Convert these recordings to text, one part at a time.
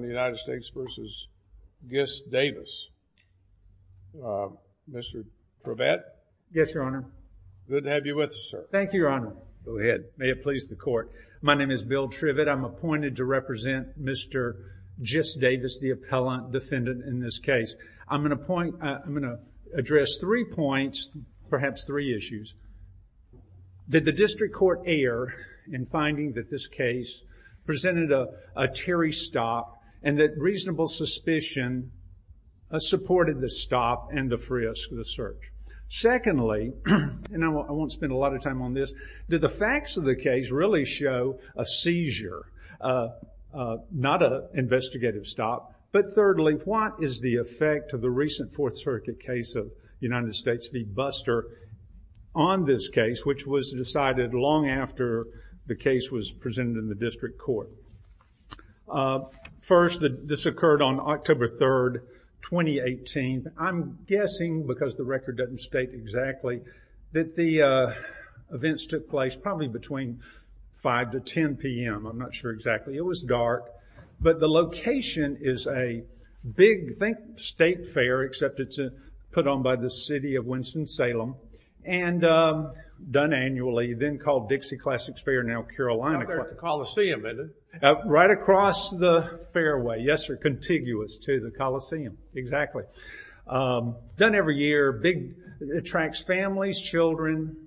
I'm appointed to represent Mr. Gist-Davis, the appellant defendant in this case. I'm going to point, I'm going to address three points, perhaps three issues. Did the district court err in finding that this case presented a teary stop and that reasonable suspicion supported the stop and the frisk, the search? Secondly, and I won't spend a lot of time on this, did the facts of the case really show a seizure, not an investigative stop? But thirdly, what is the effect of the recent Fourth Circuit case of United States v. Buster on this case, which was decided long after the case was presented in the district court? First, this occurred on October 3rd, 2018. I'm guessing, because the record doesn't state exactly, that the events took place probably between 5 to 10 p.m. I'm not sure exactly. It was dark. But the location is a big, think state fair, except it's put on by the city of Winston-Salem. And done annually, then called Dixie Classics Fair, now Carolina. There's a Coliseum in it. Right across the fairway, yes, or contiguous to the Coliseum, exactly. Done every year, big, attracts families, children.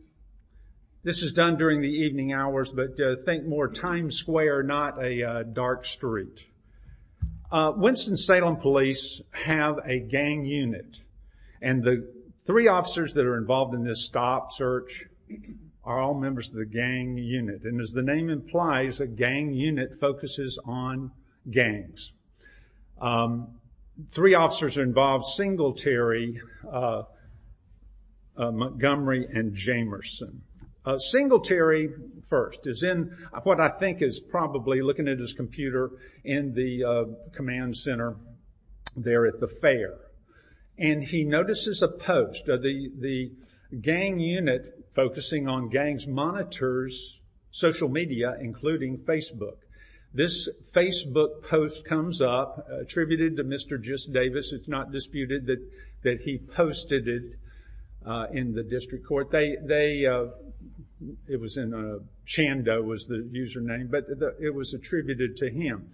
This is done during the evening hours, but think more Times Square, not a dark street. Winston-Salem Police have a gang unit. And the three officers that are involved in this stop, search, are all members of the gang unit. And as the name implies, a gang unit focuses on gangs. Three officers are involved, Singletary, Montgomery, and Jamerson. Singletary, first, is in what I think is probably, looking at his computer, in the command center there at the fair. And he notices a post. The gang unit focusing on gangs monitors social media, including Facebook. This Facebook post comes up, attributed to Mr. Jus Davis. It's not disputed that he posted it in the district court. It was in Chando, was the username, but it was attributed to him.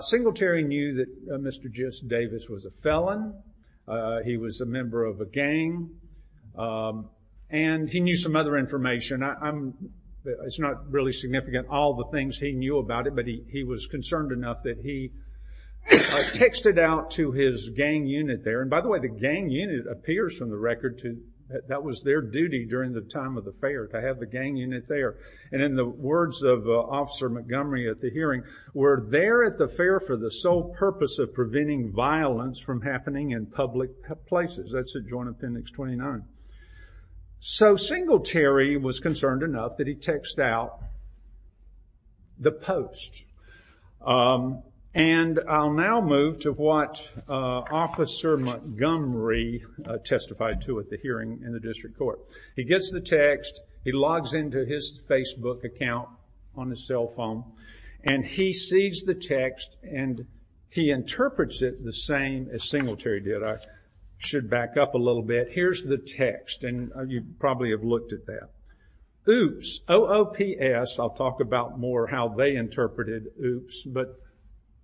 Singletary knew that Mr. Jus Davis was a felon. He was a member of a gang. And he knew some other information. It's not really significant all the things he knew about it, but he was concerned enough that he texted out to his gang unit there. And by the way, the gang unit appears from the record that that was their duty during the time of the fair, to have the gang unit there. And in the words of Officer Montgomery at the hearing, we're there at the fair for the sole purpose of preventing violence from happening in public places. That's at Joint Appendix 29. So Singletary was concerned enough that he text out the post. And I'll now move to what Officer Montgomery testified to at the hearing in the district court. He gets the text. He logs into his Facebook account on his cell phone. And he sees the text, and he interprets it the same as Singletary did. I should back up a little bit. Here's the text, and you probably have looked at that. Oops, O-O-P-S. I'll talk about more how they interpreted oops. But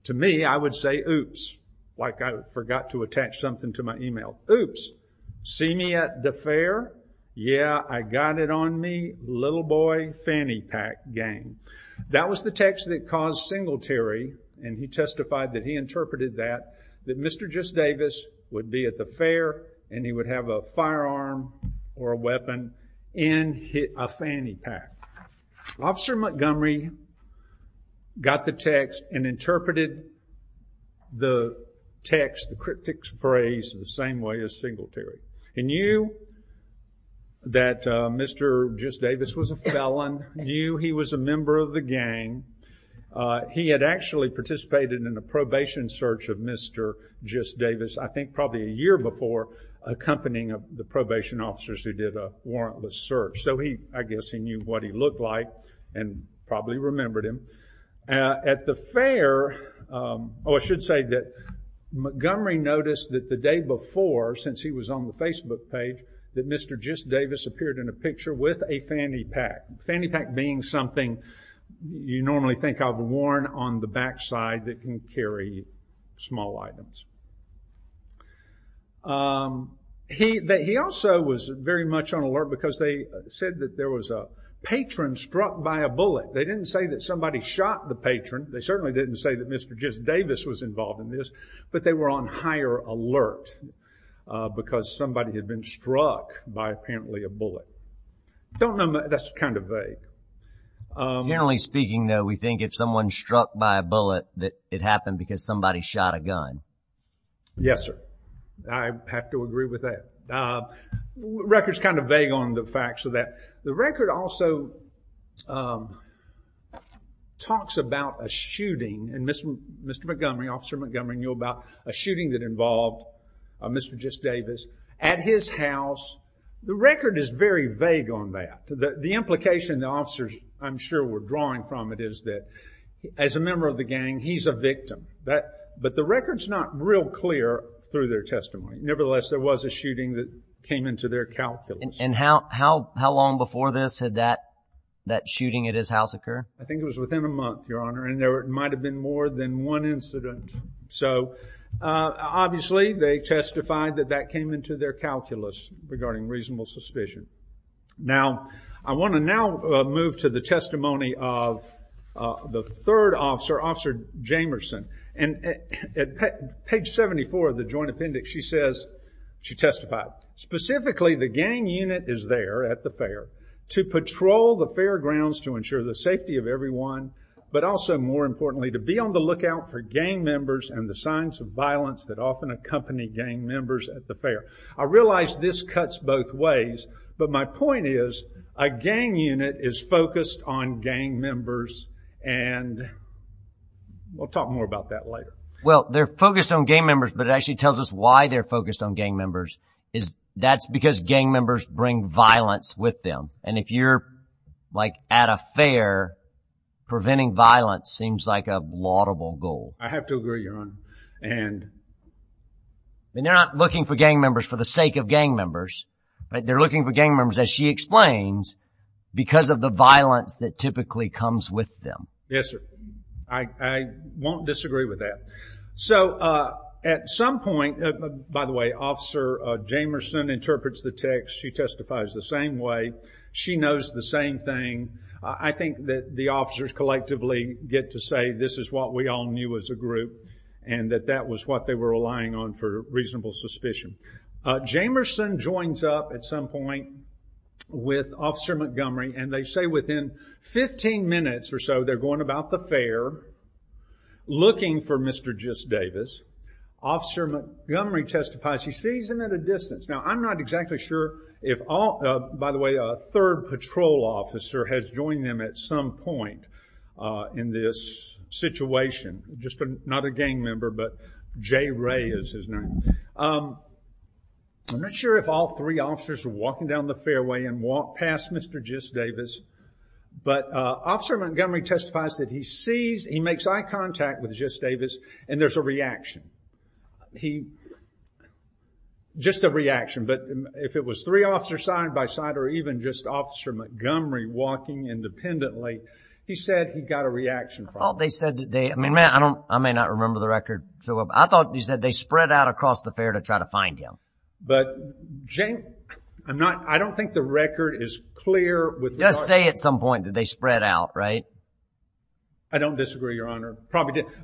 to me, I would say oops, like I forgot to attach something to my email. Oops, see me at the fair? Yeah, I got it on me, little boy fanny pack gang. That was the text that caused Singletary, and he testified that he interpreted that, that Mr. Jus Davis would be at the fair, and he would have a firearm or a weapon in a fanny pack. Officer Montgomery got the text and interpreted the text, the cryptic phrase, the same way as Singletary. He knew that Mr. Jus Davis was a felon. He knew he was a member of the gang. He had actually participated in a probation search of Mr. Jus Davis, I think probably a year before, accompanying the probation officers who did a warrantless search. So I guess he knew what he looked like and probably remembered him. At the fair, I should say that Montgomery noticed that the day before, since he was on the Facebook page, that Mr. Jus Davis appeared in a picture with a fanny pack. Fanny pack being something you normally think of worn on the backside that can carry small items. He also was very much on alert because they said that there was a patron struck by a bullet. They didn't say that somebody shot the patron. They certainly didn't say that Mr. Jus Davis was involved in this, but they were on higher alert because somebody had been struck by apparently a bullet. That's kind of vague. Generally speaking, though, we think if someone's struck by a bullet, that it happened because somebody shot a gun. Yes, sir. I have to agree with that. The record's kind of vague on the facts of that. The record also talks about a shooting. Mr. Montgomery, Officer Montgomery, knew about a shooting that involved Mr. Jus Davis at his house. The record is very vague on that. The implication the officers, I'm sure, were drawing from it is that as a member of the gang, he's a victim. But the record's not real clear through their testimony. Nevertheless, there was a shooting that came into their calculus. And how long before this did that shooting at his house occur? I think it was within a month, Your Honor, and there might have been more than one incident. So, obviously, they testified that that came into their calculus regarding reasonable suspicion. Now, I want to now move to the testimony of the third officer, Officer Jamerson. And at page 74 of the joint appendix, she says, she testified, specifically the gang unit is there at the fair to patrol the fairgrounds to ensure the safety of everyone, but also, more importantly, to be on the lookout for gang members and the signs of violence that often accompany gang members at the fair. I realize this cuts both ways, but my point is a gang unit is focused on gang members, and we'll talk more about that later. Well, they're focused on gang members, but it actually tells us why they're focused on gang members. That's because gang members bring violence with them. And if you're, like, at a fair, preventing violence seems like a laudable goal. I have to agree, Your Honor. They're not looking for gang members for the sake of gang members. They're looking for gang members, as she explains, because of the violence that typically comes with them. Yes, sir. I won't disagree with that. So, at some point, by the way, Officer Jamerson interprets the text. She testifies the same way. She knows the same thing. I think that the officers collectively get to say this is what we all knew as a group and that that was what they were relying on for reasonable suspicion. Jamerson joins up at some point with Officer Montgomery, and they say within 15 minutes or so they're going about the fair looking for Mr. Jus Davis. Officer Montgomery testifies. He sees him at a distance. Now, I'm not exactly sure if all... By the way, a third patrol officer has joined them at some point in this situation. Just not a gang member, but Jay Ray is his name. I'm not sure if all three officers are walking down the fairway and walk past Mr. Jus Davis, but Officer Montgomery testifies that he sees... He makes eye contact with Jus Davis, and there's a reaction. He... Just a reaction, but if it was three officers side by side or even just Officer Montgomery walking independently, he said he got a reaction from them. They said that they... I may not remember the record. I thought he said they spread out across the fair to try to find him. But, Jay, I don't think the record is clear. Just say at some point that they spread out, right? I don't disagree, Your Honor.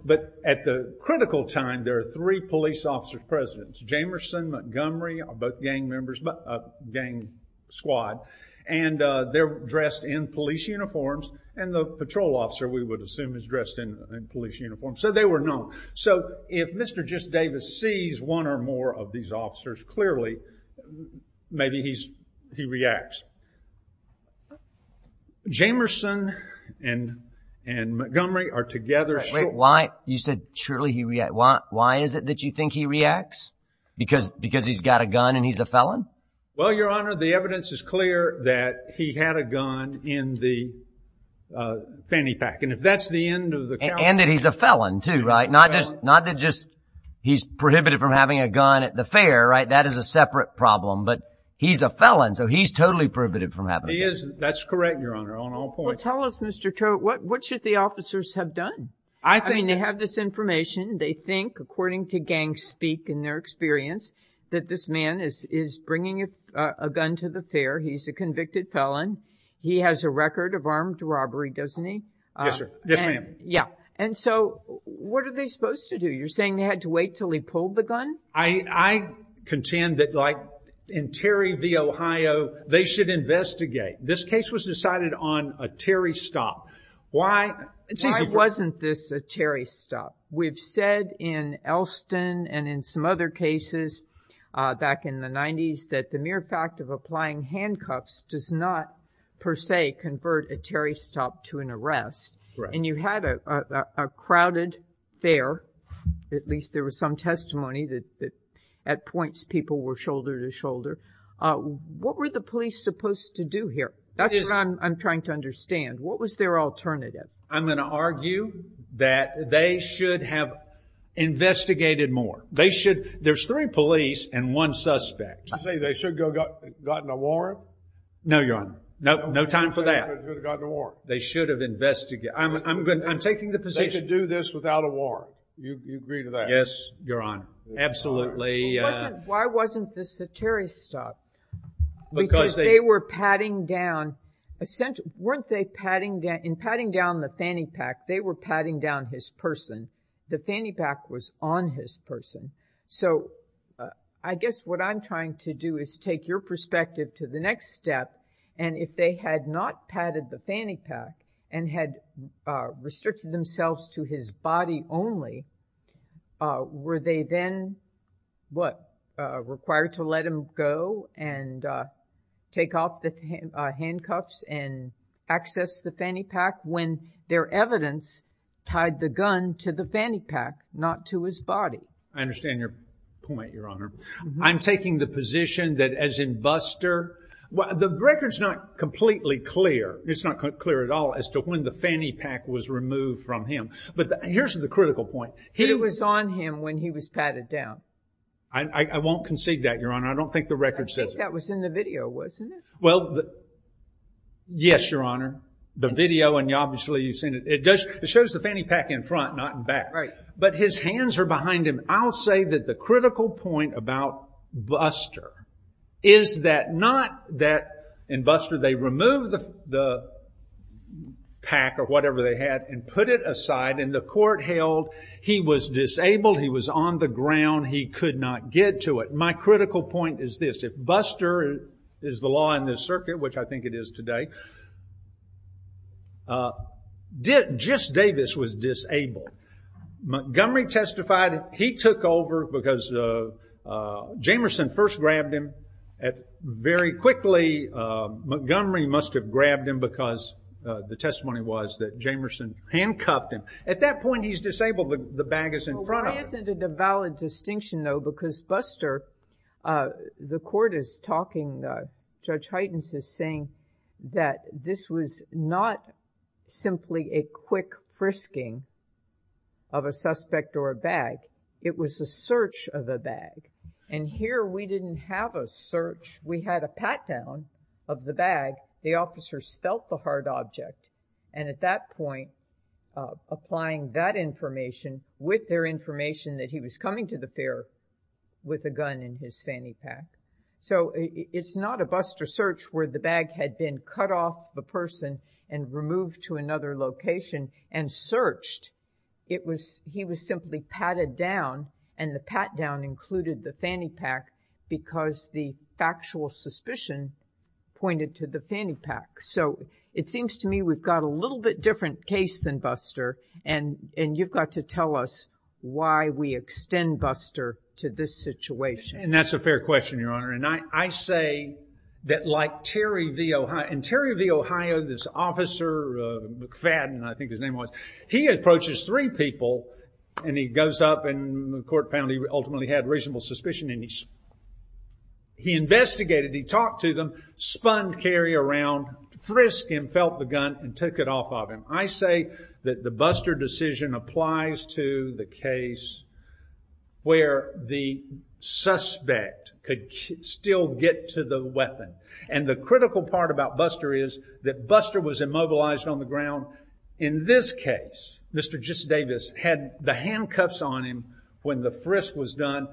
But at the critical time, there are three police officers present. Jamerson, Montgomery are both gang members, a gang squad, and they're dressed in police uniforms, and the patrol officer, we would assume, is dressed in police uniforms. So they were known. So if Mr. Jus Davis sees one or more of these officers, clearly, maybe he reacts. Jamerson and Montgomery are together. Wait, why? You said surely he reacts. Why is it that you think he reacts? Because he's got a gun and he's a felon? Well, Your Honor, the evidence is clear that he had a gun in the fanny pack. And if that's the end of the count... And that he's a felon, too, right? Not that just he's prohibited from having a gun at the fair, right? That is a separate problem. But he's a felon, so he's totally prohibited. He is. That's correct, Your Honor, on all points. Well, tell us, Mr. Tote, what should the officers have done? I mean, they have this information. They think, according to gang speak and their experience, that this man is bringing a gun to the fair. He's a convicted felon. He has a record of armed robbery, doesn't he? Yes, sir. Yes, ma'am. Yeah. And so what are they supposed to do? You're saying they had to wait until he pulled the gun? I contend that, like, in Terry v. Ohio, they should investigate. This case was decided on a Terry stop. Why wasn't this a Terry stop? We've said in Elston and in some other cases back in the 90s that the mere fact of applying handcuffs does not, per se, convert a Terry stop to an arrest. And you had a crowded fair. At least there was some testimony that, at points, people were shoulder to shoulder. What were the police supposed to do here? That's what I'm trying to understand. What was their alternative? I'm going to argue that they should have investigated more. There's three police and one suspect. You're saying they should have gotten a warrant? No, Your Honor. No time for that. They should have gotten a warrant. They should have investigated. I'm taking the position. They should do this without a warrant. You agree to that? Yes, Your Honor. Absolutely. Why wasn't this a Terry stop? Because they were patting down the fanny pack. They were patting down his person. The fanny pack was on his person. So I guess what I'm trying to do is take your perspective to the next step, and if they had not patted the fanny pack and had restricted themselves to his body only, were they then required to let him go and take off the handcuffs and access the fanny pack when their evidence tied the gun to the fanny pack, not to his body? I understand your point, Your Honor. I'm taking the position that, as in Buster, the record's not completely clear. It's not clear at all as to when the fanny pack was removed from him. But here's the critical point. It was on him when he was patted down. I won't concede that, Your Honor. I don't think the record says it. I think that was in the video, wasn't it? Well, yes, Your Honor. The video, and obviously you've seen it. It shows the fanny pack in front, not in back. Right. But his hands are behind him. And I'll say that the critical point about Buster is that not that in Buster they removed the pack or whatever they had and put it aside, and the court held he was disabled, he was on the ground, he could not get to it. My critical point is this. If Buster is the law in this circuit, which I think it is today, just Davis was disabled. Montgomery testified he took over because Jamerson first grabbed him. Very quickly Montgomery must have grabbed him because the testimony was that Jamerson handcuffed him. At that point he's disabled. The bag is in front of him. Well, why isn't it a valid distinction, though? Because Buster, the court is talking, Judge Heitens is saying, that this was not simply a quick frisking of a suspect or a bag. It was a search of the bag. And here we didn't have a search. We had a pat-down of the bag. The officer spelt the hard object. And at that point, applying that information with their information that he was coming to the fair with a gun in his fanny pack. So it's not a Buster search where the bag had been cut off of a person and removed to another location and searched. He was simply patted down and the pat-down included the fanny pack because the factual suspicion pointed to the fanny pack. So it seems to me we've got a little bit different case than Buster and you've got to tell us why we extend Buster to this situation. And that's a fair question, Your Honor. And I say that like Terry v. Ohio. And Terry v. Ohio, this officer, McFadden, I think his name was, he approaches three people and he goes up and the court found he ultimately had reasonable suspicion and he investigated. He talked to them, spun Kerry around, frisked him, felt the gun, and took it off of him. I say that the Buster decision applies to the case where the suspect could still get to the weapon. And the critical part about Buster is that Buster was immobilized on the ground. In this case, Mr. Davis had the handcuffs on him when the frisk was done.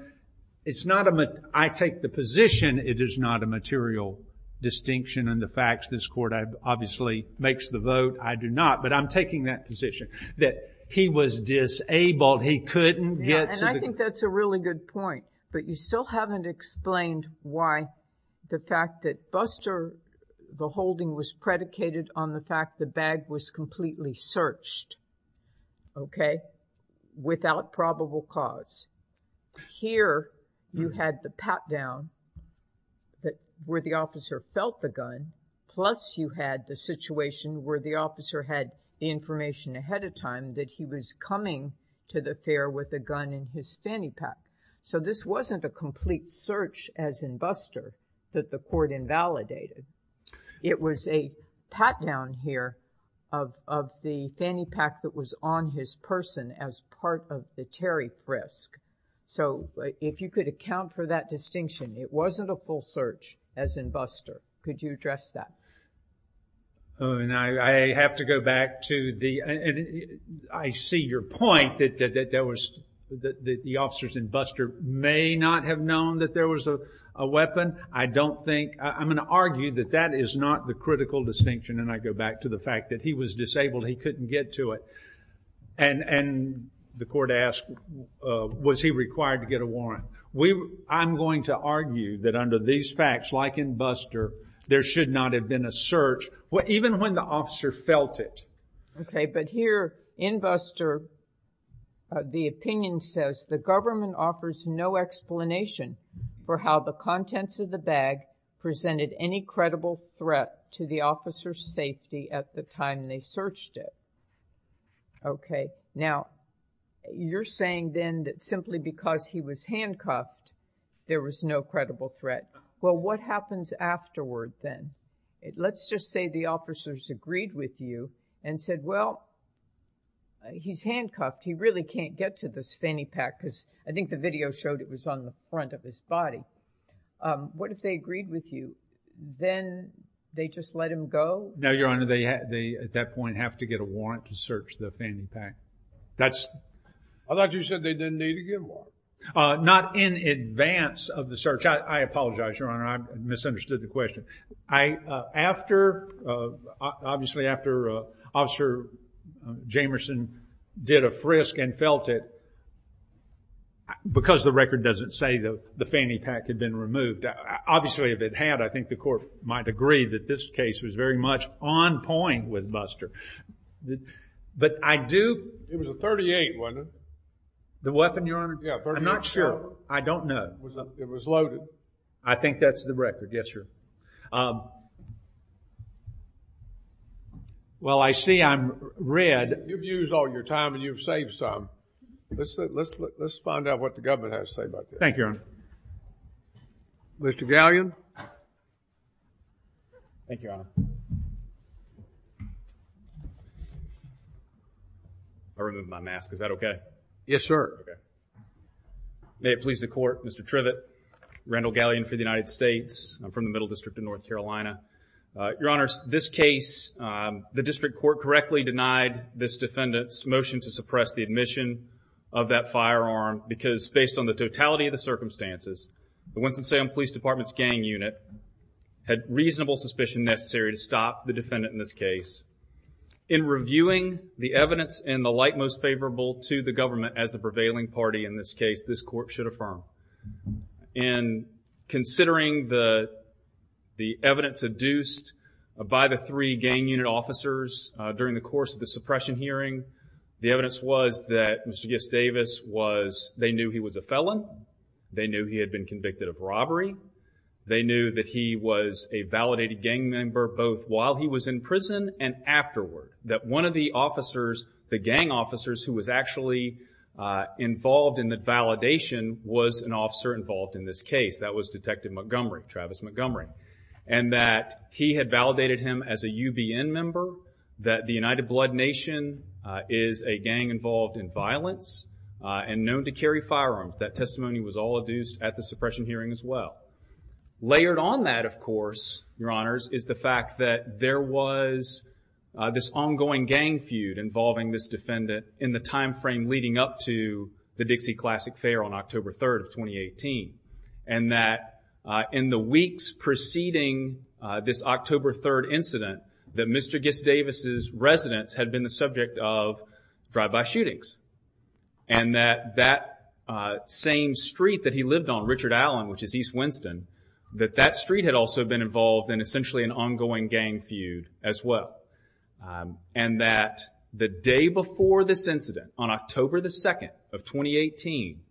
I take the position it is not a material distinction in the facts. This court obviously makes the vote. I do not. But I'm taking that position that he was disabled. He couldn't get to the gun. And I think that's a really good point. But you still haven't explained why the fact that Buster, the holding was predicated on the fact the bag was completely searched, okay, without probable cause. Here you had the pat-down where the officer felt the gun, that he was coming to the fair with a gun in his fanny pack. So this wasn't a complete search as in Buster that the court invalidated. It was a pat-down here of the fanny pack that was on his person as part of the Terry frisk. So if you could account for that distinction, it wasn't a full search as in Buster. Could you address that? And I have to go back to the – I see your point that the officers in Buster may not have known that there was a weapon. I don't think – I'm going to argue that that is not the critical distinction. And I go back to the fact that he was disabled. He couldn't get to it. And the court asked, was he required to get a warrant? I'm going to argue that under these facts, like in Buster, there should not have been a search, even when the officer felt it. Okay, but here in Buster, the opinion says, the government offers no explanation for how the contents of the bag presented any credible threat to the officer's safety at the time they searched it. Okay, now you're saying then that simply because he was handcuffed, there was no credible threat. Well, what happens afterward then? Let's just say the officers agreed with you and said, well, he's handcuffed. He really can't get to this fanny pack because I think the video showed it was on the front of his body. What if they agreed with you? Then they just let him go? No, Your Honor. They at that point have to get a warrant to search the fanny pack. I thought you said they didn't need a good warrant. Not in advance of the search. I apologize, Your Honor. I misunderstood the question. After, obviously, after Officer Jamerson did a frisk and felt it, because the record doesn't say the fanny pack had been removed, obviously if it had, I think the court might agree that this case was very much on point with Buster. But I do. It was a .38, wasn't it? The weapon, Your Honor? I'm not sure. I don't know. It was loaded. I think that's the record. Yes, sir. Well, I see I'm red. You've used all your time and you've saved some. Let's find out what the government has to say about this. Thank you, Your Honor. Mr. Gallion? Thank you, Your Honor. I removed my mask. Is that okay? Yes, sir. Okay. May it please the court, Mr. Trivett, Randall Gallion for the United States. I'm from the Middle District of North Carolina. Your Honor, this case, the district court correctly denied this defendant's motion to suppress the admission of that firearm because, based on the totality of the circumstances, the Winston-Salem Police Department's gang unit had reasonable suspicion necessary to stop the defendant in this case. In reviewing the evidence in the light most favorable to the government as the prevailing party in this case, this court should affirm. And considering the evidence adduced by the three gang unit officers during the course of the suppression hearing, the evidence was that Mr. Gibbs Davis was, they knew he was a felon. They knew he had been convicted of robbery. They knew that he was a validated gang member, both while he was in prison and afterward. That one of the officers, the gang officers, who was actually involved in the validation, was an officer involved in this case. That was Detective Montgomery, Travis Montgomery. And that he had validated him as a UBN member, that the United Blood Nation is a gang involved in violence and known to carry firearms. That testimony was all adduced at the suppression hearing as well. Layered on that, of course, Your Honors, is the fact that there was this ongoing gang feud involving this defendant in the time frame leading up to the Dixie Classic Fair on October 3rd of 2018. And that in the weeks preceding this October 3rd incident, that Mr. Gibbs Davis' residence had been the subject of drive-by shootings. And that that same street that he lived on, Richard Allen, which is East Winston, that that street had also been involved in essentially an ongoing gang feud as well. And that the day before this incident, on October 2nd of 2018,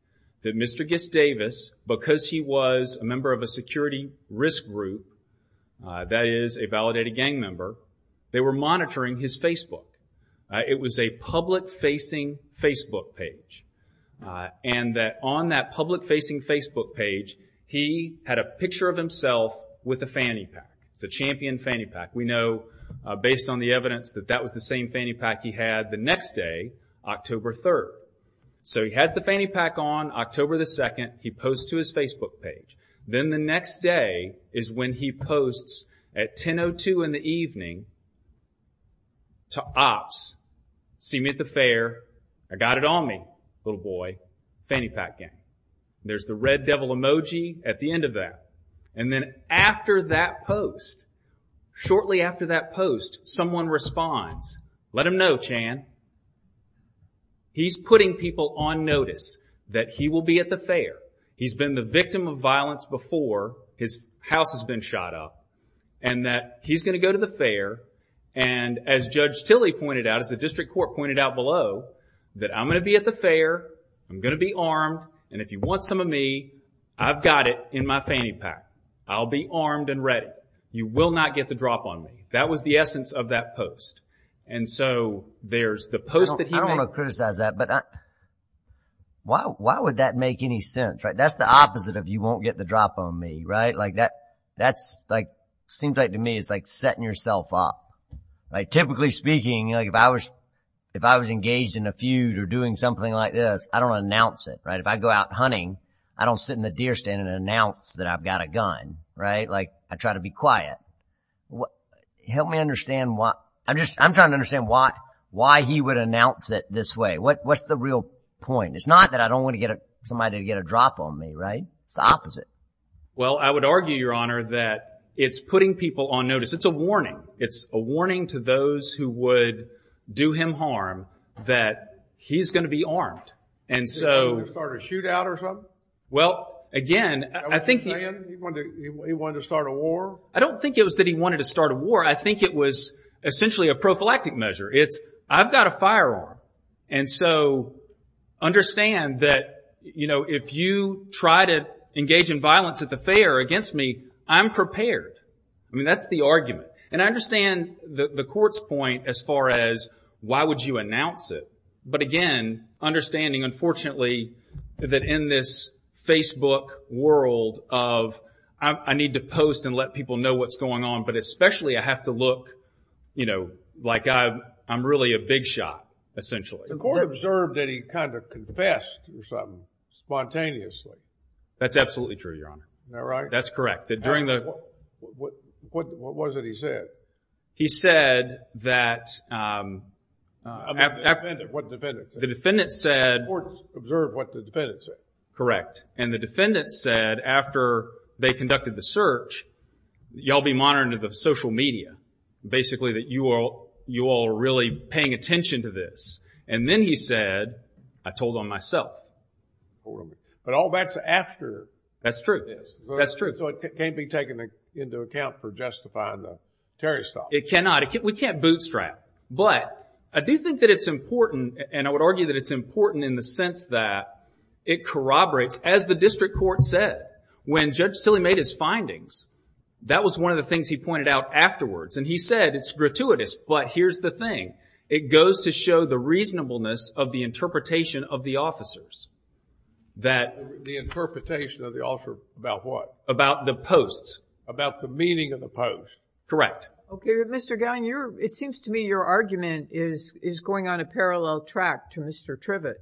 that Mr. Gibbs Davis, because he was a member of a security risk group, that is, a validated gang member, they were monitoring his Facebook. It was a public-facing Facebook page. And that on that public-facing Facebook page, he had a picture of himself with a fanny pack. It's a champion fanny pack. We know, based on the evidence, that that was the same fanny pack he had the next day, October 3rd. So he has the fanny pack on October 2nd. He posts to his Facebook page. Then the next day is when he posts at 10.02 in the evening to ops, see me at the fair. I got it on me, little boy. Fanny pack gang. There's the red devil emoji at the end of that. And then after that post, shortly after that post, someone responds. Let him know, Chan. He's putting people on notice that he will be at the fair. He's been the victim of violence before. His house has been shot up. And that he's going to go to the fair. And as Judge Tilley pointed out, as the district court pointed out below, that I'm going to be at the fair. I'm going to be armed. And if you want some of me, I've got it in my fanny pack. I'll be armed and ready. You will not get the drop on me. That was the essence of that post. And so there's the post that he made. I don't want to criticize that, but why would that make any sense? That's the opposite of you won't get the drop on me, right? Seems like to me it's like setting yourself up. Typically speaking, if I was engaged in a feud or doing something like this, I don't announce it. If I go out hunting, I don't sit in the deer stand and announce that I've got a gun. I try to be quiet. Help me understand why. I'm trying to understand why he would announce it this way. What's the real point? It's not that I don't want somebody to get a drop on me, right? It's the opposite. Well, I would argue, Your Honor, that it's putting people on notice. It's a warning. It's a warning to those who would do him harm that he's going to be armed. And so. He's going to start a shootout or something? Well, again, I think. He wanted to start a war? I don't think it was that he wanted to start a war. I think it was essentially a prophylactic measure. It's I've got a firearm. And so understand that, you know, if you try to engage in violence at the fair against me, I'm prepared. I mean, that's the argument. And I understand the court's point as far as why would you announce it. But, again, understanding, unfortunately, that in this Facebook world of, I need to post and let people know what's going on, but especially I have to look, you know, like I'm really a big shot, essentially. The court observed that he kind of confessed or something spontaneously. That's absolutely true, Your Honor. Is that right? That's correct. During the. What was it he said? He said that. What the defendant said. The defendant said. The court observed what the defendant said. Correct. And the defendant said after they conducted the search, y'all be monitoring the social media, basically, that you all are really paying attention to this. And then he said, I told on myself. But all that's after. That's true. That's true. So it can't be taken into account for justifying the Terry stop. It cannot. We can't bootstrap. But I do think that it's important, and I would argue that it's important in the sense that it corroborates, as the district court said, when Judge Tilley made his findings, that was one of the things he pointed out afterwards. And he said it's gratuitous, but here's the thing. It goes to show the reasonableness of the interpretation of the officers. The interpretation of the officer about what? About the posts. About the meaning of the posts. Correct. Okay. But Mr. Gowan, it seems to me your argument is going on a parallel track to Mr. Trivett.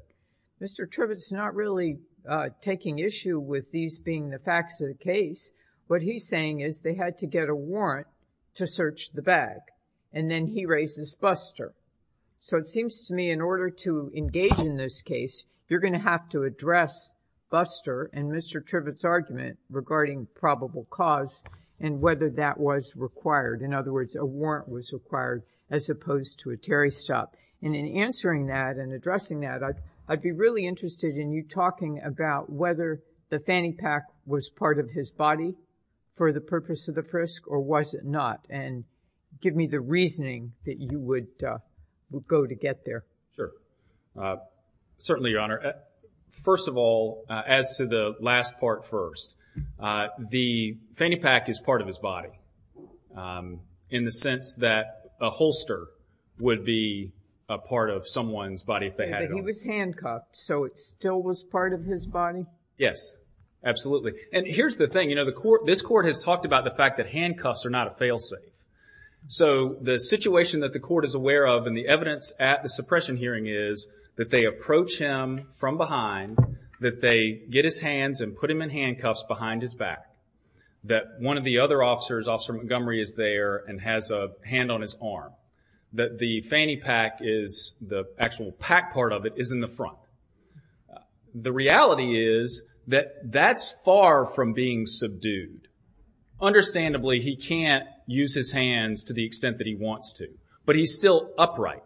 Mr. Trivett's not really taking issue with these being the facts of the case. What he's saying is they had to get a warrant to search the bag, and then he raises Buster. So it seems to me in order to engage in this case, you're going to have to address Buster and Mr. Trivett's argument regarding probable cause and whether that was required. In other words, a warrant was required as opposed to a Terry stop. And in answering that and addressing that, I'd be really interested in you talking about whether the fanny pack was part of his body for the purpose of the frisk, or was it not? And give me the reasoning that you would go to get there. Sure. Certainly, Your Honor. First of all, as to the last part first, the fanny pack is part of his body. In the sense that a holster would be a part of someone's body if they had it on. He was handcuffed, so it still was part of his body? Yes. Absolutely. And here's the thing. This Court has talked about the fact that handcuffs are not a fail-safe. So the situation that the Court is aware of and the evidence at the suppression hearing is that they approach him from behind, that they get his hands and put him in handcuffs behind his back, that one of the other officers, Officer Montgomery, is there and has a hand on his arm, that the fanny pack is the actual pack part of it is in the front. The reality is that that's far from being subdued. Understandably, he can't use his hands to the extent that he wants to, but he's still upright.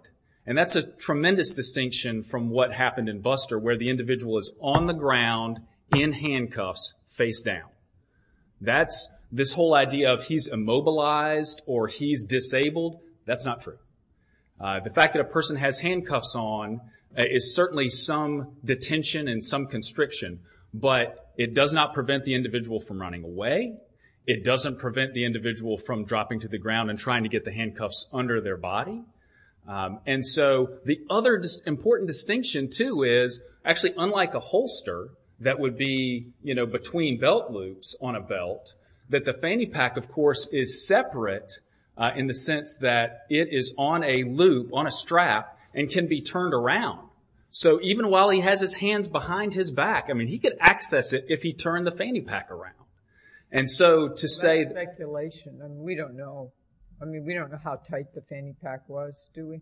And that's a tremendous distinction from what happened in Buster, where the individual is on the ground, in handcuffs, face down. This whole idea of he's immobilized or he's disabled, that's not true. The fact that a person has handcuffs on is certainly some detention and some constriction, but it does not prevent the individual from running away. It doesn't prevent the individual from dropping to the ground and trying to get the handcuffs under their body. And so the other important distinction, too, is actually unlike a holster that would be between belt loops on a belt, that the fanny pack, of course, is separate in the sense that it is on a loop, on a strap, and can be turned around. So even while he has his hands behind his back, he could access it if he turned the fanny pack around. And so to say... We don't know. I mean, we don't know how tight the fanny pack was, do we?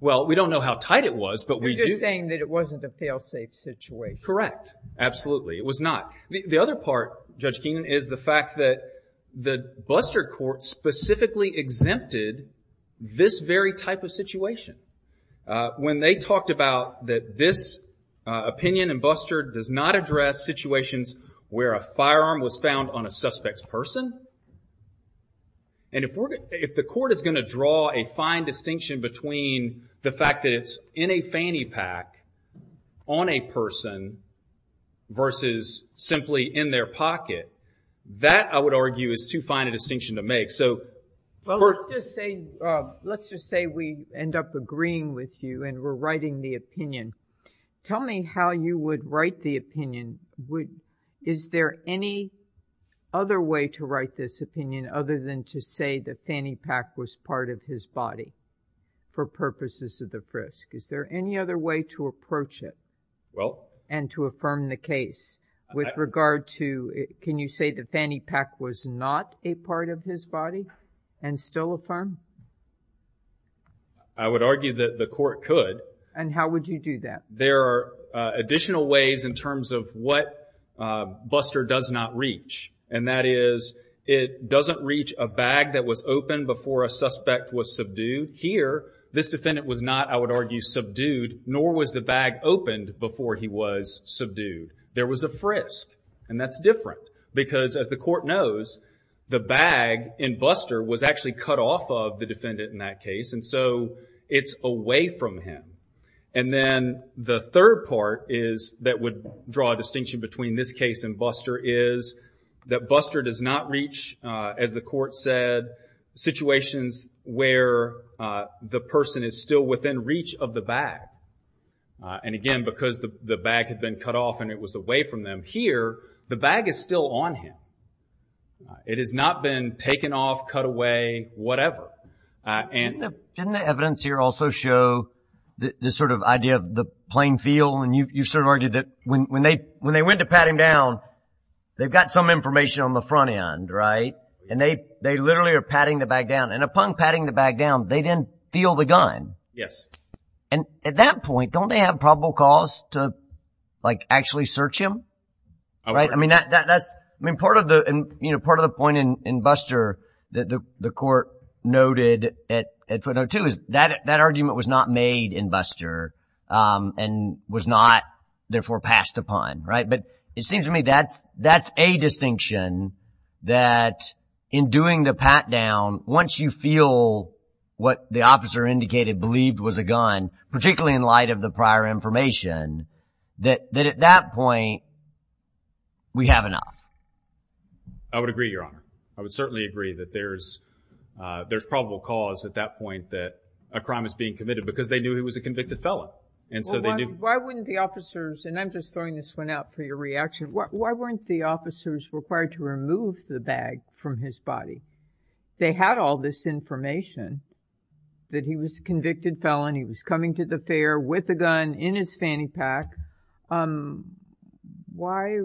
Well, we don't know how tight it was, but we do... You're just saying that it wasn't a fail-safe situation. Correct. Absolutely, it was not. The other part, Judge Keenan, is the fact that the Buster court specifically exempted When they talked about that this opinion in Buster does not address situations where a firearm was found on a suspect's person. And if the court is going to draw a fine distinction between the fact that it's in a fanny pack on a person versus simply in their pocket, that, I would argue, is too fine a distinction to make. So... Well, let's just say we end up agreeing with you and we're writing the opinion. Tell me how you would write the opinion. Is there any other way to write this opinion other than to say the fanny pack was part of his body for purposes of the frisk? Is there any other way to approach it? Well... And to affirm the case with regard to... Can you say the fanny pack was not a part of his body and still affirm? I would argue that the court could. And how would you do that? There are additional ways in terms of what Buster does not reach. And that is, it doesn't reach a bag that was opened before a suspect was subdued. Here, this defendant was not, I would argue, subdued, nor was the bag opened before he was subdued. There was a frisk, and that's different. Because, as the court knows, the bag in Buster was actually cut off of the defendant in that case, and so it's away from him. And then the third part that would draw a distinction between this case and Buster is that Buster does not reach, as the court said, situations where the person is still within reach of the bag. And again, because the bag had been cut off and it was away from them here, the bag is still on him. It has not been taken off, cut away, whatever. Didn't the evidence here also show this sort of idea of the plain feel? And you sort of argued that when they went to pat him down, they've got some information on the front end, right? And they literally are patting the bag down. And upon patting the bag down, they then feel the gun. Yes. And at that point, don't they have probable cause to actually search him? I mean, part of the point in Buster that the court noted at footnote 2 is that that argument was not made in Buster and was not, therefore, passed upon. But it seems to me that's a distinction that in doing the pat down, once you feel what the officer indicated believed was a gun, particularly in light of the prior information, that at that point we have enough. I would agree, Your Honor. I would certainly agree that there's probable cause at that point that a crime is being committed because they knew he was a convicted felon. Why wouldn't the officers, and I'm just throwing this one out for your reaction, why weren't the officers required to remove the bag from his body? They had all this information that he was a convicted felon, he was coming to the fair with a gun in his fanny pack. Why,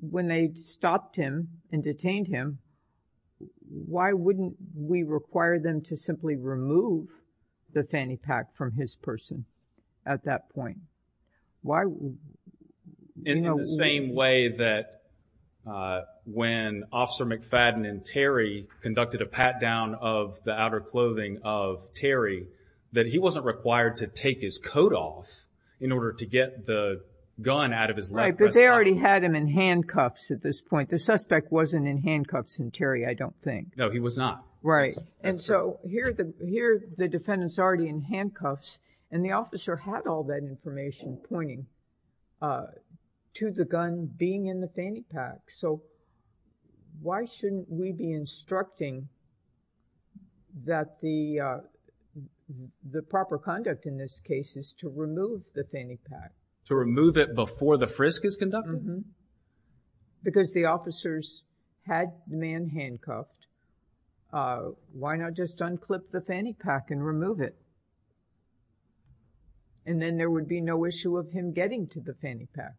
when they stopped him and detained him, why wouldn't we require them to simply remove the fanny pack from his person at that point? In the same way that when Officer McFadden and Terry conducted a pat down of the outer clothing of Terry, that he wasn't required to take his coat off in order to get the gun out of his leg. Right, but they already had him in handcuffs at this point. The suspect wasn't in handcuffs in Terry, I don't think. No, he was not. Right, and so here the defendant's already in handcuffs and the officer had all that information pointing to the gun being in the fanny pack. So, why shouldn't we be instructing that the proper conduct in this case is to remove the fanny pack? To remove it before the frisk is conducted? Because the officers had the man handcuffed, why not just unclip the fanny pack and remove it? And then there would be no issue of him getting to the fanny pack.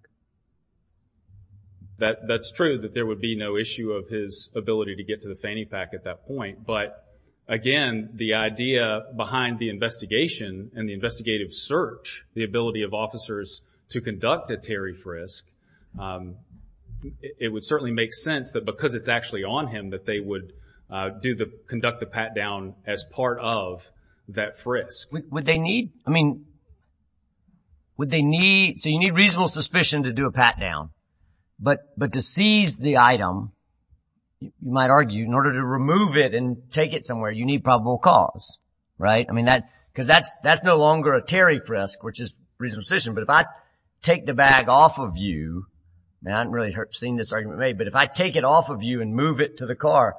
That's true, that there would be no issue of his ability to get to the fanny pack at that point. But, again, the idea behind the investigation and the investigative search, the ability of officers to conduct a Terry frisk, it would certainly make sense that because it's actually on him that they would conduct the pat down as part of that frisk. Would they need, I mean, would they need, so you need reasonable suspicion to do a pat down. But to seize the item, you might argue, in order to remove it and take it somewhere, you need probable cause, right? I mean, because that's no longer a Terry frisk, which is reasonable suspicion. But if I take the bag off of you, and I haven't really seen this argument made, but if I take it off of you and move it to the car,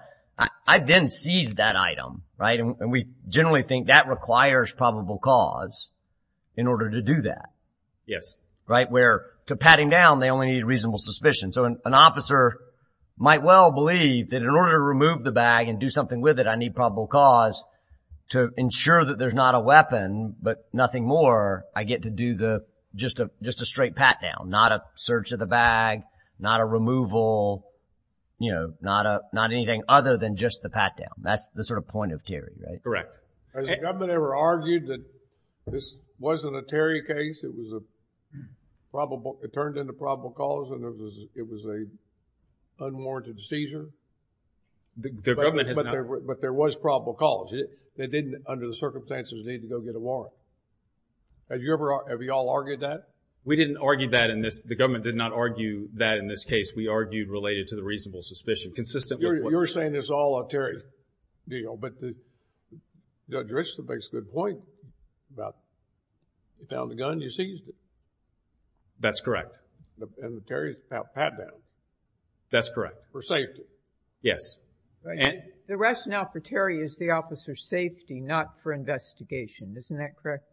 I then seize that item, right? And we generally think that requires probable cause in order to do that. Yes. Right, where to pat him down, they only need reasonable suspicion. So an officer might well believe that in order to remove the bag and do something with it, I need probable cause to ensure that there's not a weapon, but nothing more, I get to do just a straight pat down, not a search of the bag, not a removal, not anything other than just the pat down. That's the sort of point of Terry, right? Correct. Has the government ever argued that this wasn't a Terry case, it was a probable, it turned into probable cause, and it was an unwarranted seizure? The government has not. But there was probable cause. They didn't, under the circumstances, need to go get a warrant. Have you ever, have you all argued that? We didn't argue that in this, the government did not argue that in this case. We argued related to the reasonable suspicion, consistent with what. So you're saying it's all a Terry deal, but Judge Richland makes a good point about, you found the gun, you seized it. That's correct. And the Terry pat down. That's correct. For safety. Yes. The rationale for Terry is the officer's safety, not for investigation. Isn't that correct?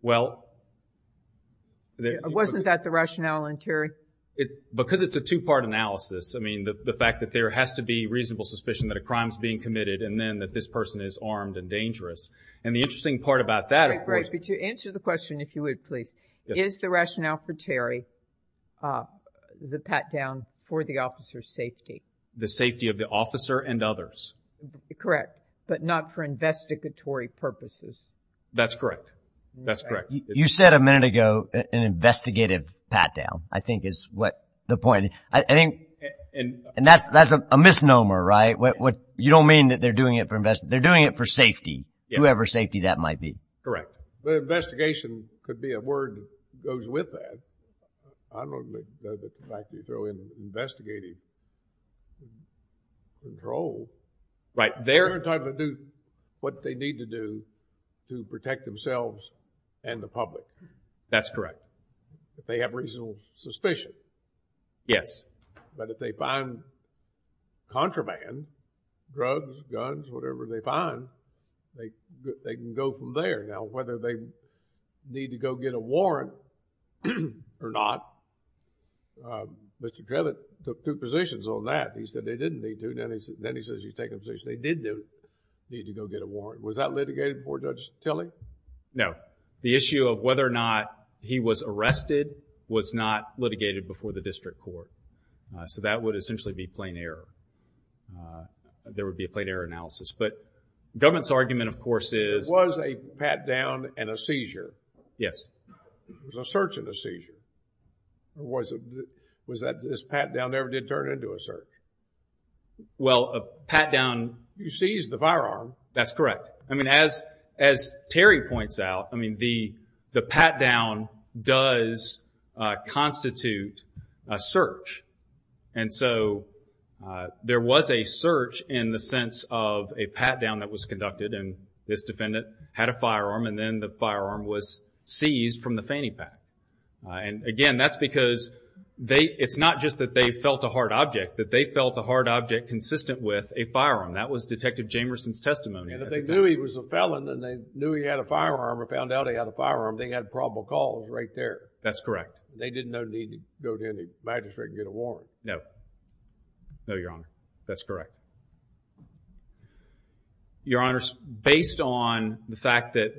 Well. Wasn't that the rationale in Terry? Because it's a two-part analysis, I mean, the fact that there has to be reasonable suspicion that a crime is being committed, and then that this person is armed and dangerous. And the interesting part about that is. But to answer the question, if you would, please. Is the rationale for Terry, the pat down for the officer's safety? The safety of the officer and others. Correct. But not for investigatory purposes. That's correct. That's correct. You said a minute ago, an investigative pat down, I think is what the point. And that's a misnomer, right? You don't mean that they're doing it for investigation. They're doing it for safety. Whoever's safety that might be. Correct. But investigation could be a word that goes with that. I don't know that the fact that you throw in investigative control. Right. They're entitled to do what they need to do to protect themselves and the public. That's correct. If they have reasonable suspicion. Yes. But if they find contraband, drugs, guns, whatever they find, they can go from there. Now, whether they need to go get a warrant or not, Mr. Trevitt took two positions on that. He said they didn't need to. Then he says he's taken a position they did need to go get a warrant. Was that litigated before Judge Tilley? No. The issue of whether or not he was arrested was not litigated before the district court. So that would essentially be plain error. There would be a plain error analysis. But the government's argument, of course, is... There was a pat-down and a seizure. Yes. There was a search and a seizure. Was that this pat-down never did turn into a search? Well, a pat-down... You seized the firearm. That's correct. I mean, as Terry points out, the pat-down does constitute a search. And so there was a search in the sense of a pat-down that was conducted and this defendant had a firearm and then the firearm was seized from the fanny pack. Again, that's because it's not just that they felt a hard object, that they felt a hard object consistent with a firearm. That was Detective Jamerson's testimony. And if they knew he was a felon and they knew he had a firearm or found out he had a firearm, they had probable cause right there. That's correct. They didn't need to go to any magistrate and get a warrant. No. No, Your Honor. That's correct. Your Honors, based on the fact that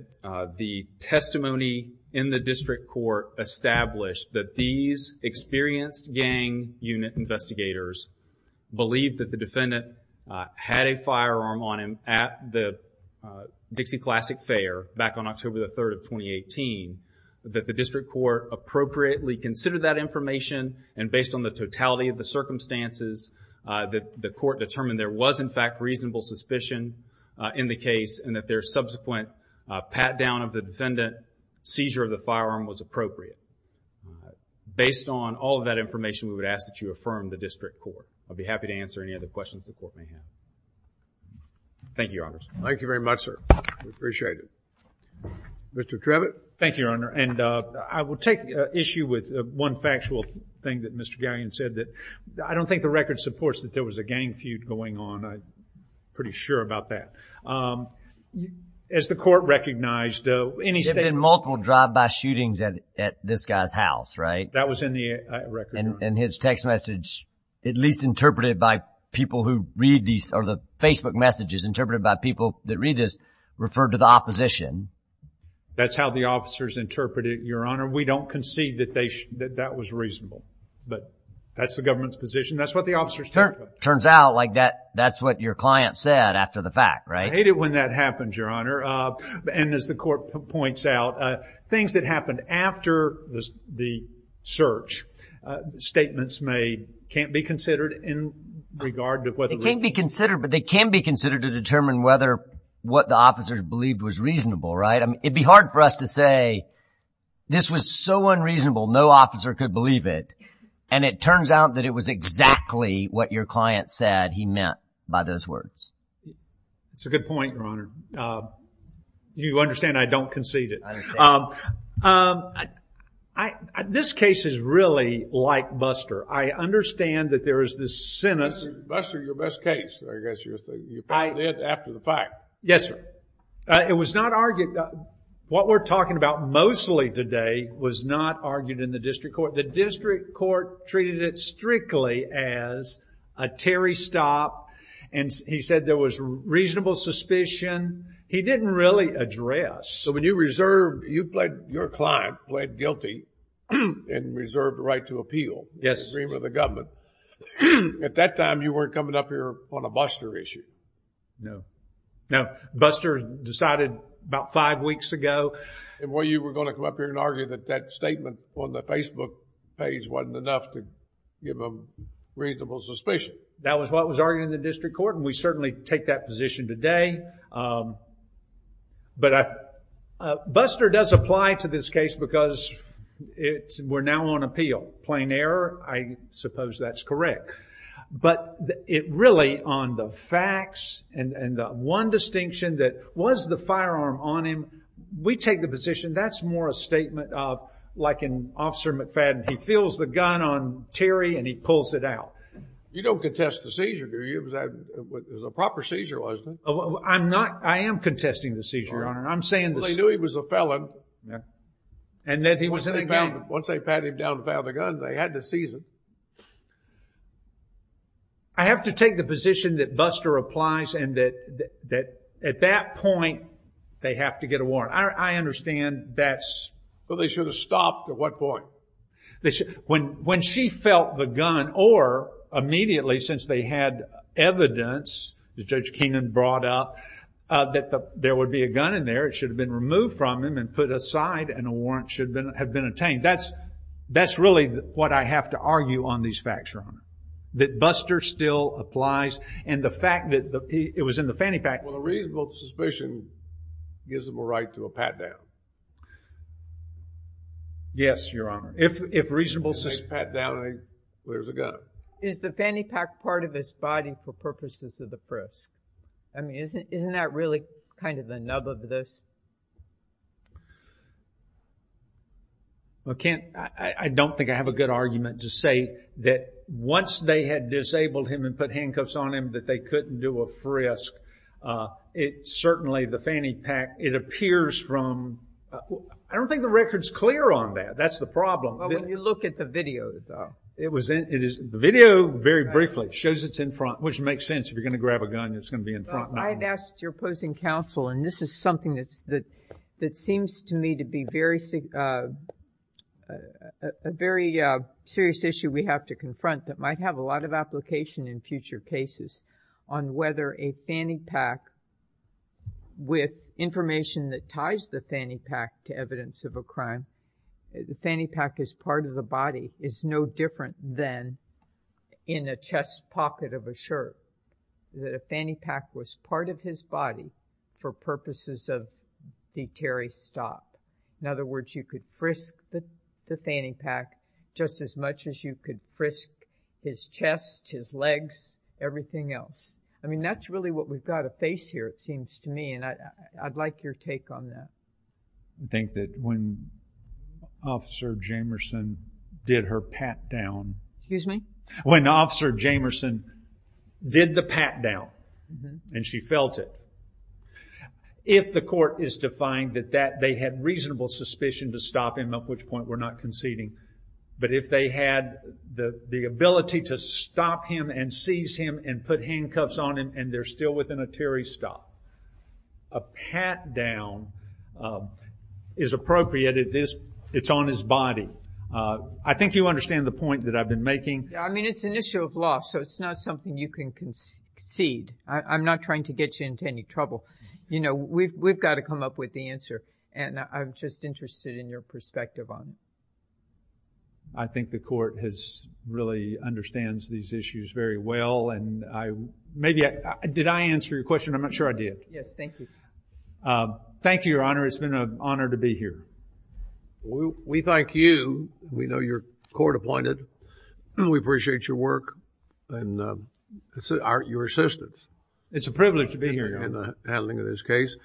the testimony in the district court established that these experienced gang unit investigators believed that the defendant had a firearm on him at the Dixie Classic Fair back on October the 3rd of 2018, that the district court appropriately considered that information and based on the totality of the circumstances, the court determined there was in fact reasonable suspicion in the case and that their subsequent pat-down of the defendant's seizure of the firearm was appropriate. Based on all of that information, we would ask that you affirm the district court. I'll be happy to answer any other questions the court may have. Thank you, Your Honors. Thank you very much, sir. We appreciate it. Mr. Trevitt. Thank you, Your Honor. And I will take issue with one factual thing that Mr. Gallion said that I don't think the record supports that there was a gang feud going on. I'm pretty sure about that. As the court recognized, any statement… There have been multiple drive-by shootings at this guy's house, right? That was in the record. And his text message at least interpreted by people who read these or the Facebook messages interpreted by people that read this referred to the opposition. That's how the officers interpreted it, Your Honor. We don't concede that that was reasonable. But that's the government's position. That's what the officers think. Turns out like that's what your client said after the fact, right? I hate it when that happens, Your Honor. And as the court points out, things that happened after the search, statements made can't be considered in regard to whether… They can be considered, but they can be considered to determine whether what the officers believed was reasonable, right? It'd be hard for us to say this was so unreasonable, no officer could believe it. And it turns out that it was exactly what your client said he meant by those words. That's a good point, Your Honor. You understand I don't concede it. I understand. It is really like Buster. I understand that there is this sentence. Buster, your best case, I guess, you probably did after the fact. Yes, sir. It was not argued. What we're talking about mostly today was not argued in the district court. The district court treated it strictly as a Terry stop, and he said there was reasonable suspicion. He didn't really address. So when you reserved, you pled, your client pled guilty and reserved the right to appeal. Yes. In agreement with the government. At that time, you weren't coming up here on a Buster issue. No. No. Buster decided about five weeks ago. Well, you were going to come up here and argue that that statement on the Facebook page wasn't enough to give them reasonable suspicion. That was what was argued in the district court, and we certainly take that position today. But Buster does apply to this case because we're now on appeal. Plain error, I suppose that's correct. But it really, on the facts and the one distinction that was the firearm on him, we take the position that's more a statement of, like in Officer McFadden, he feels the gun on Terry and he pulls it out. You don't contest the seizure, do you? It was a proper seizure, wasn't it? I am contesting the seizure, Your Honor. Well, they knew he was a felon. Once they pat him down and found the gun, they had to seize it. I have to take the position that Buster applies and that at that point they have to get a warrant. I understand that's… Well, they should have stopped at what point? When she felt the gun or immediately since they had evidence that Judge Keenan brought up that there would be a gun in there, it should have been removed from him and put aside and a warrant should have been obtained. That's really what I have to argue on these facts, Your Honor, that Buster still applies and the fact that it was in the fanny pack. Well, a reasonable suspicion gives them a right to a pat down. Yes, Your Honor. If reasonable suspicion… Pat down and there's a gun. Is the fanny pack part of his body for purposes of the frisk? I mean, isn't that really kind of the nub of this? I don't think I have a good argument to say that once they had disabled him and put handcuffs on him that they couldn't do a frisk. It certainly, the fanny pack, it appears from… I don't think the record's clear on that. That's the problem. Well, when you look at the video, though. The video, very briefly, shows it's in front, which makes sense. If you're going to grab a gun, it's going to be in front. I've asked your opposing counsel, and this is something that seems to me to be a very serious issue we have to confront that might have a lot of application in future cases on whether a fanny pack with information that ties the fanny pack to evidence of a crime, that the fanny pack is part of the body, is no different than in a chest pocket of a shirt. That a fanny pack was part of his body for purposes of the Terry's stop. In other words, you could frisk the fanny pack just as much as you could frisk his chest, his legs, everything else. I mean, that's really what we've got to face here, it seems to me, and I'd like your take on that. I think that when Officer Jamerson did her pat down... Excuse me? When Officer Jamerson did the pat down, and she felt it, if the court is to find that they had reasonable suspicion to stop him, at which point we're not conceding, but if they had the ability to stop him and seize him and put handcuffs on him and they're still within a Terry's stop, a pat down is appropriate. It's on his body. I think you understand the point that I've been making. I mean, it's an issue of law, so it's not something you can concede. I'm not trying to get you into any trouble. We've got to come up with the answer, and I'm just interested in your perspective on it. I think the court really understands these issues very well, and maybe I... Yes, thank you. Thank you, Your Honor. It's been an honor to be here. We thank you. We know you're court-appointed. We appreciate your work and your assistance. It's a privilege to be here, Your Honor. In handling this case.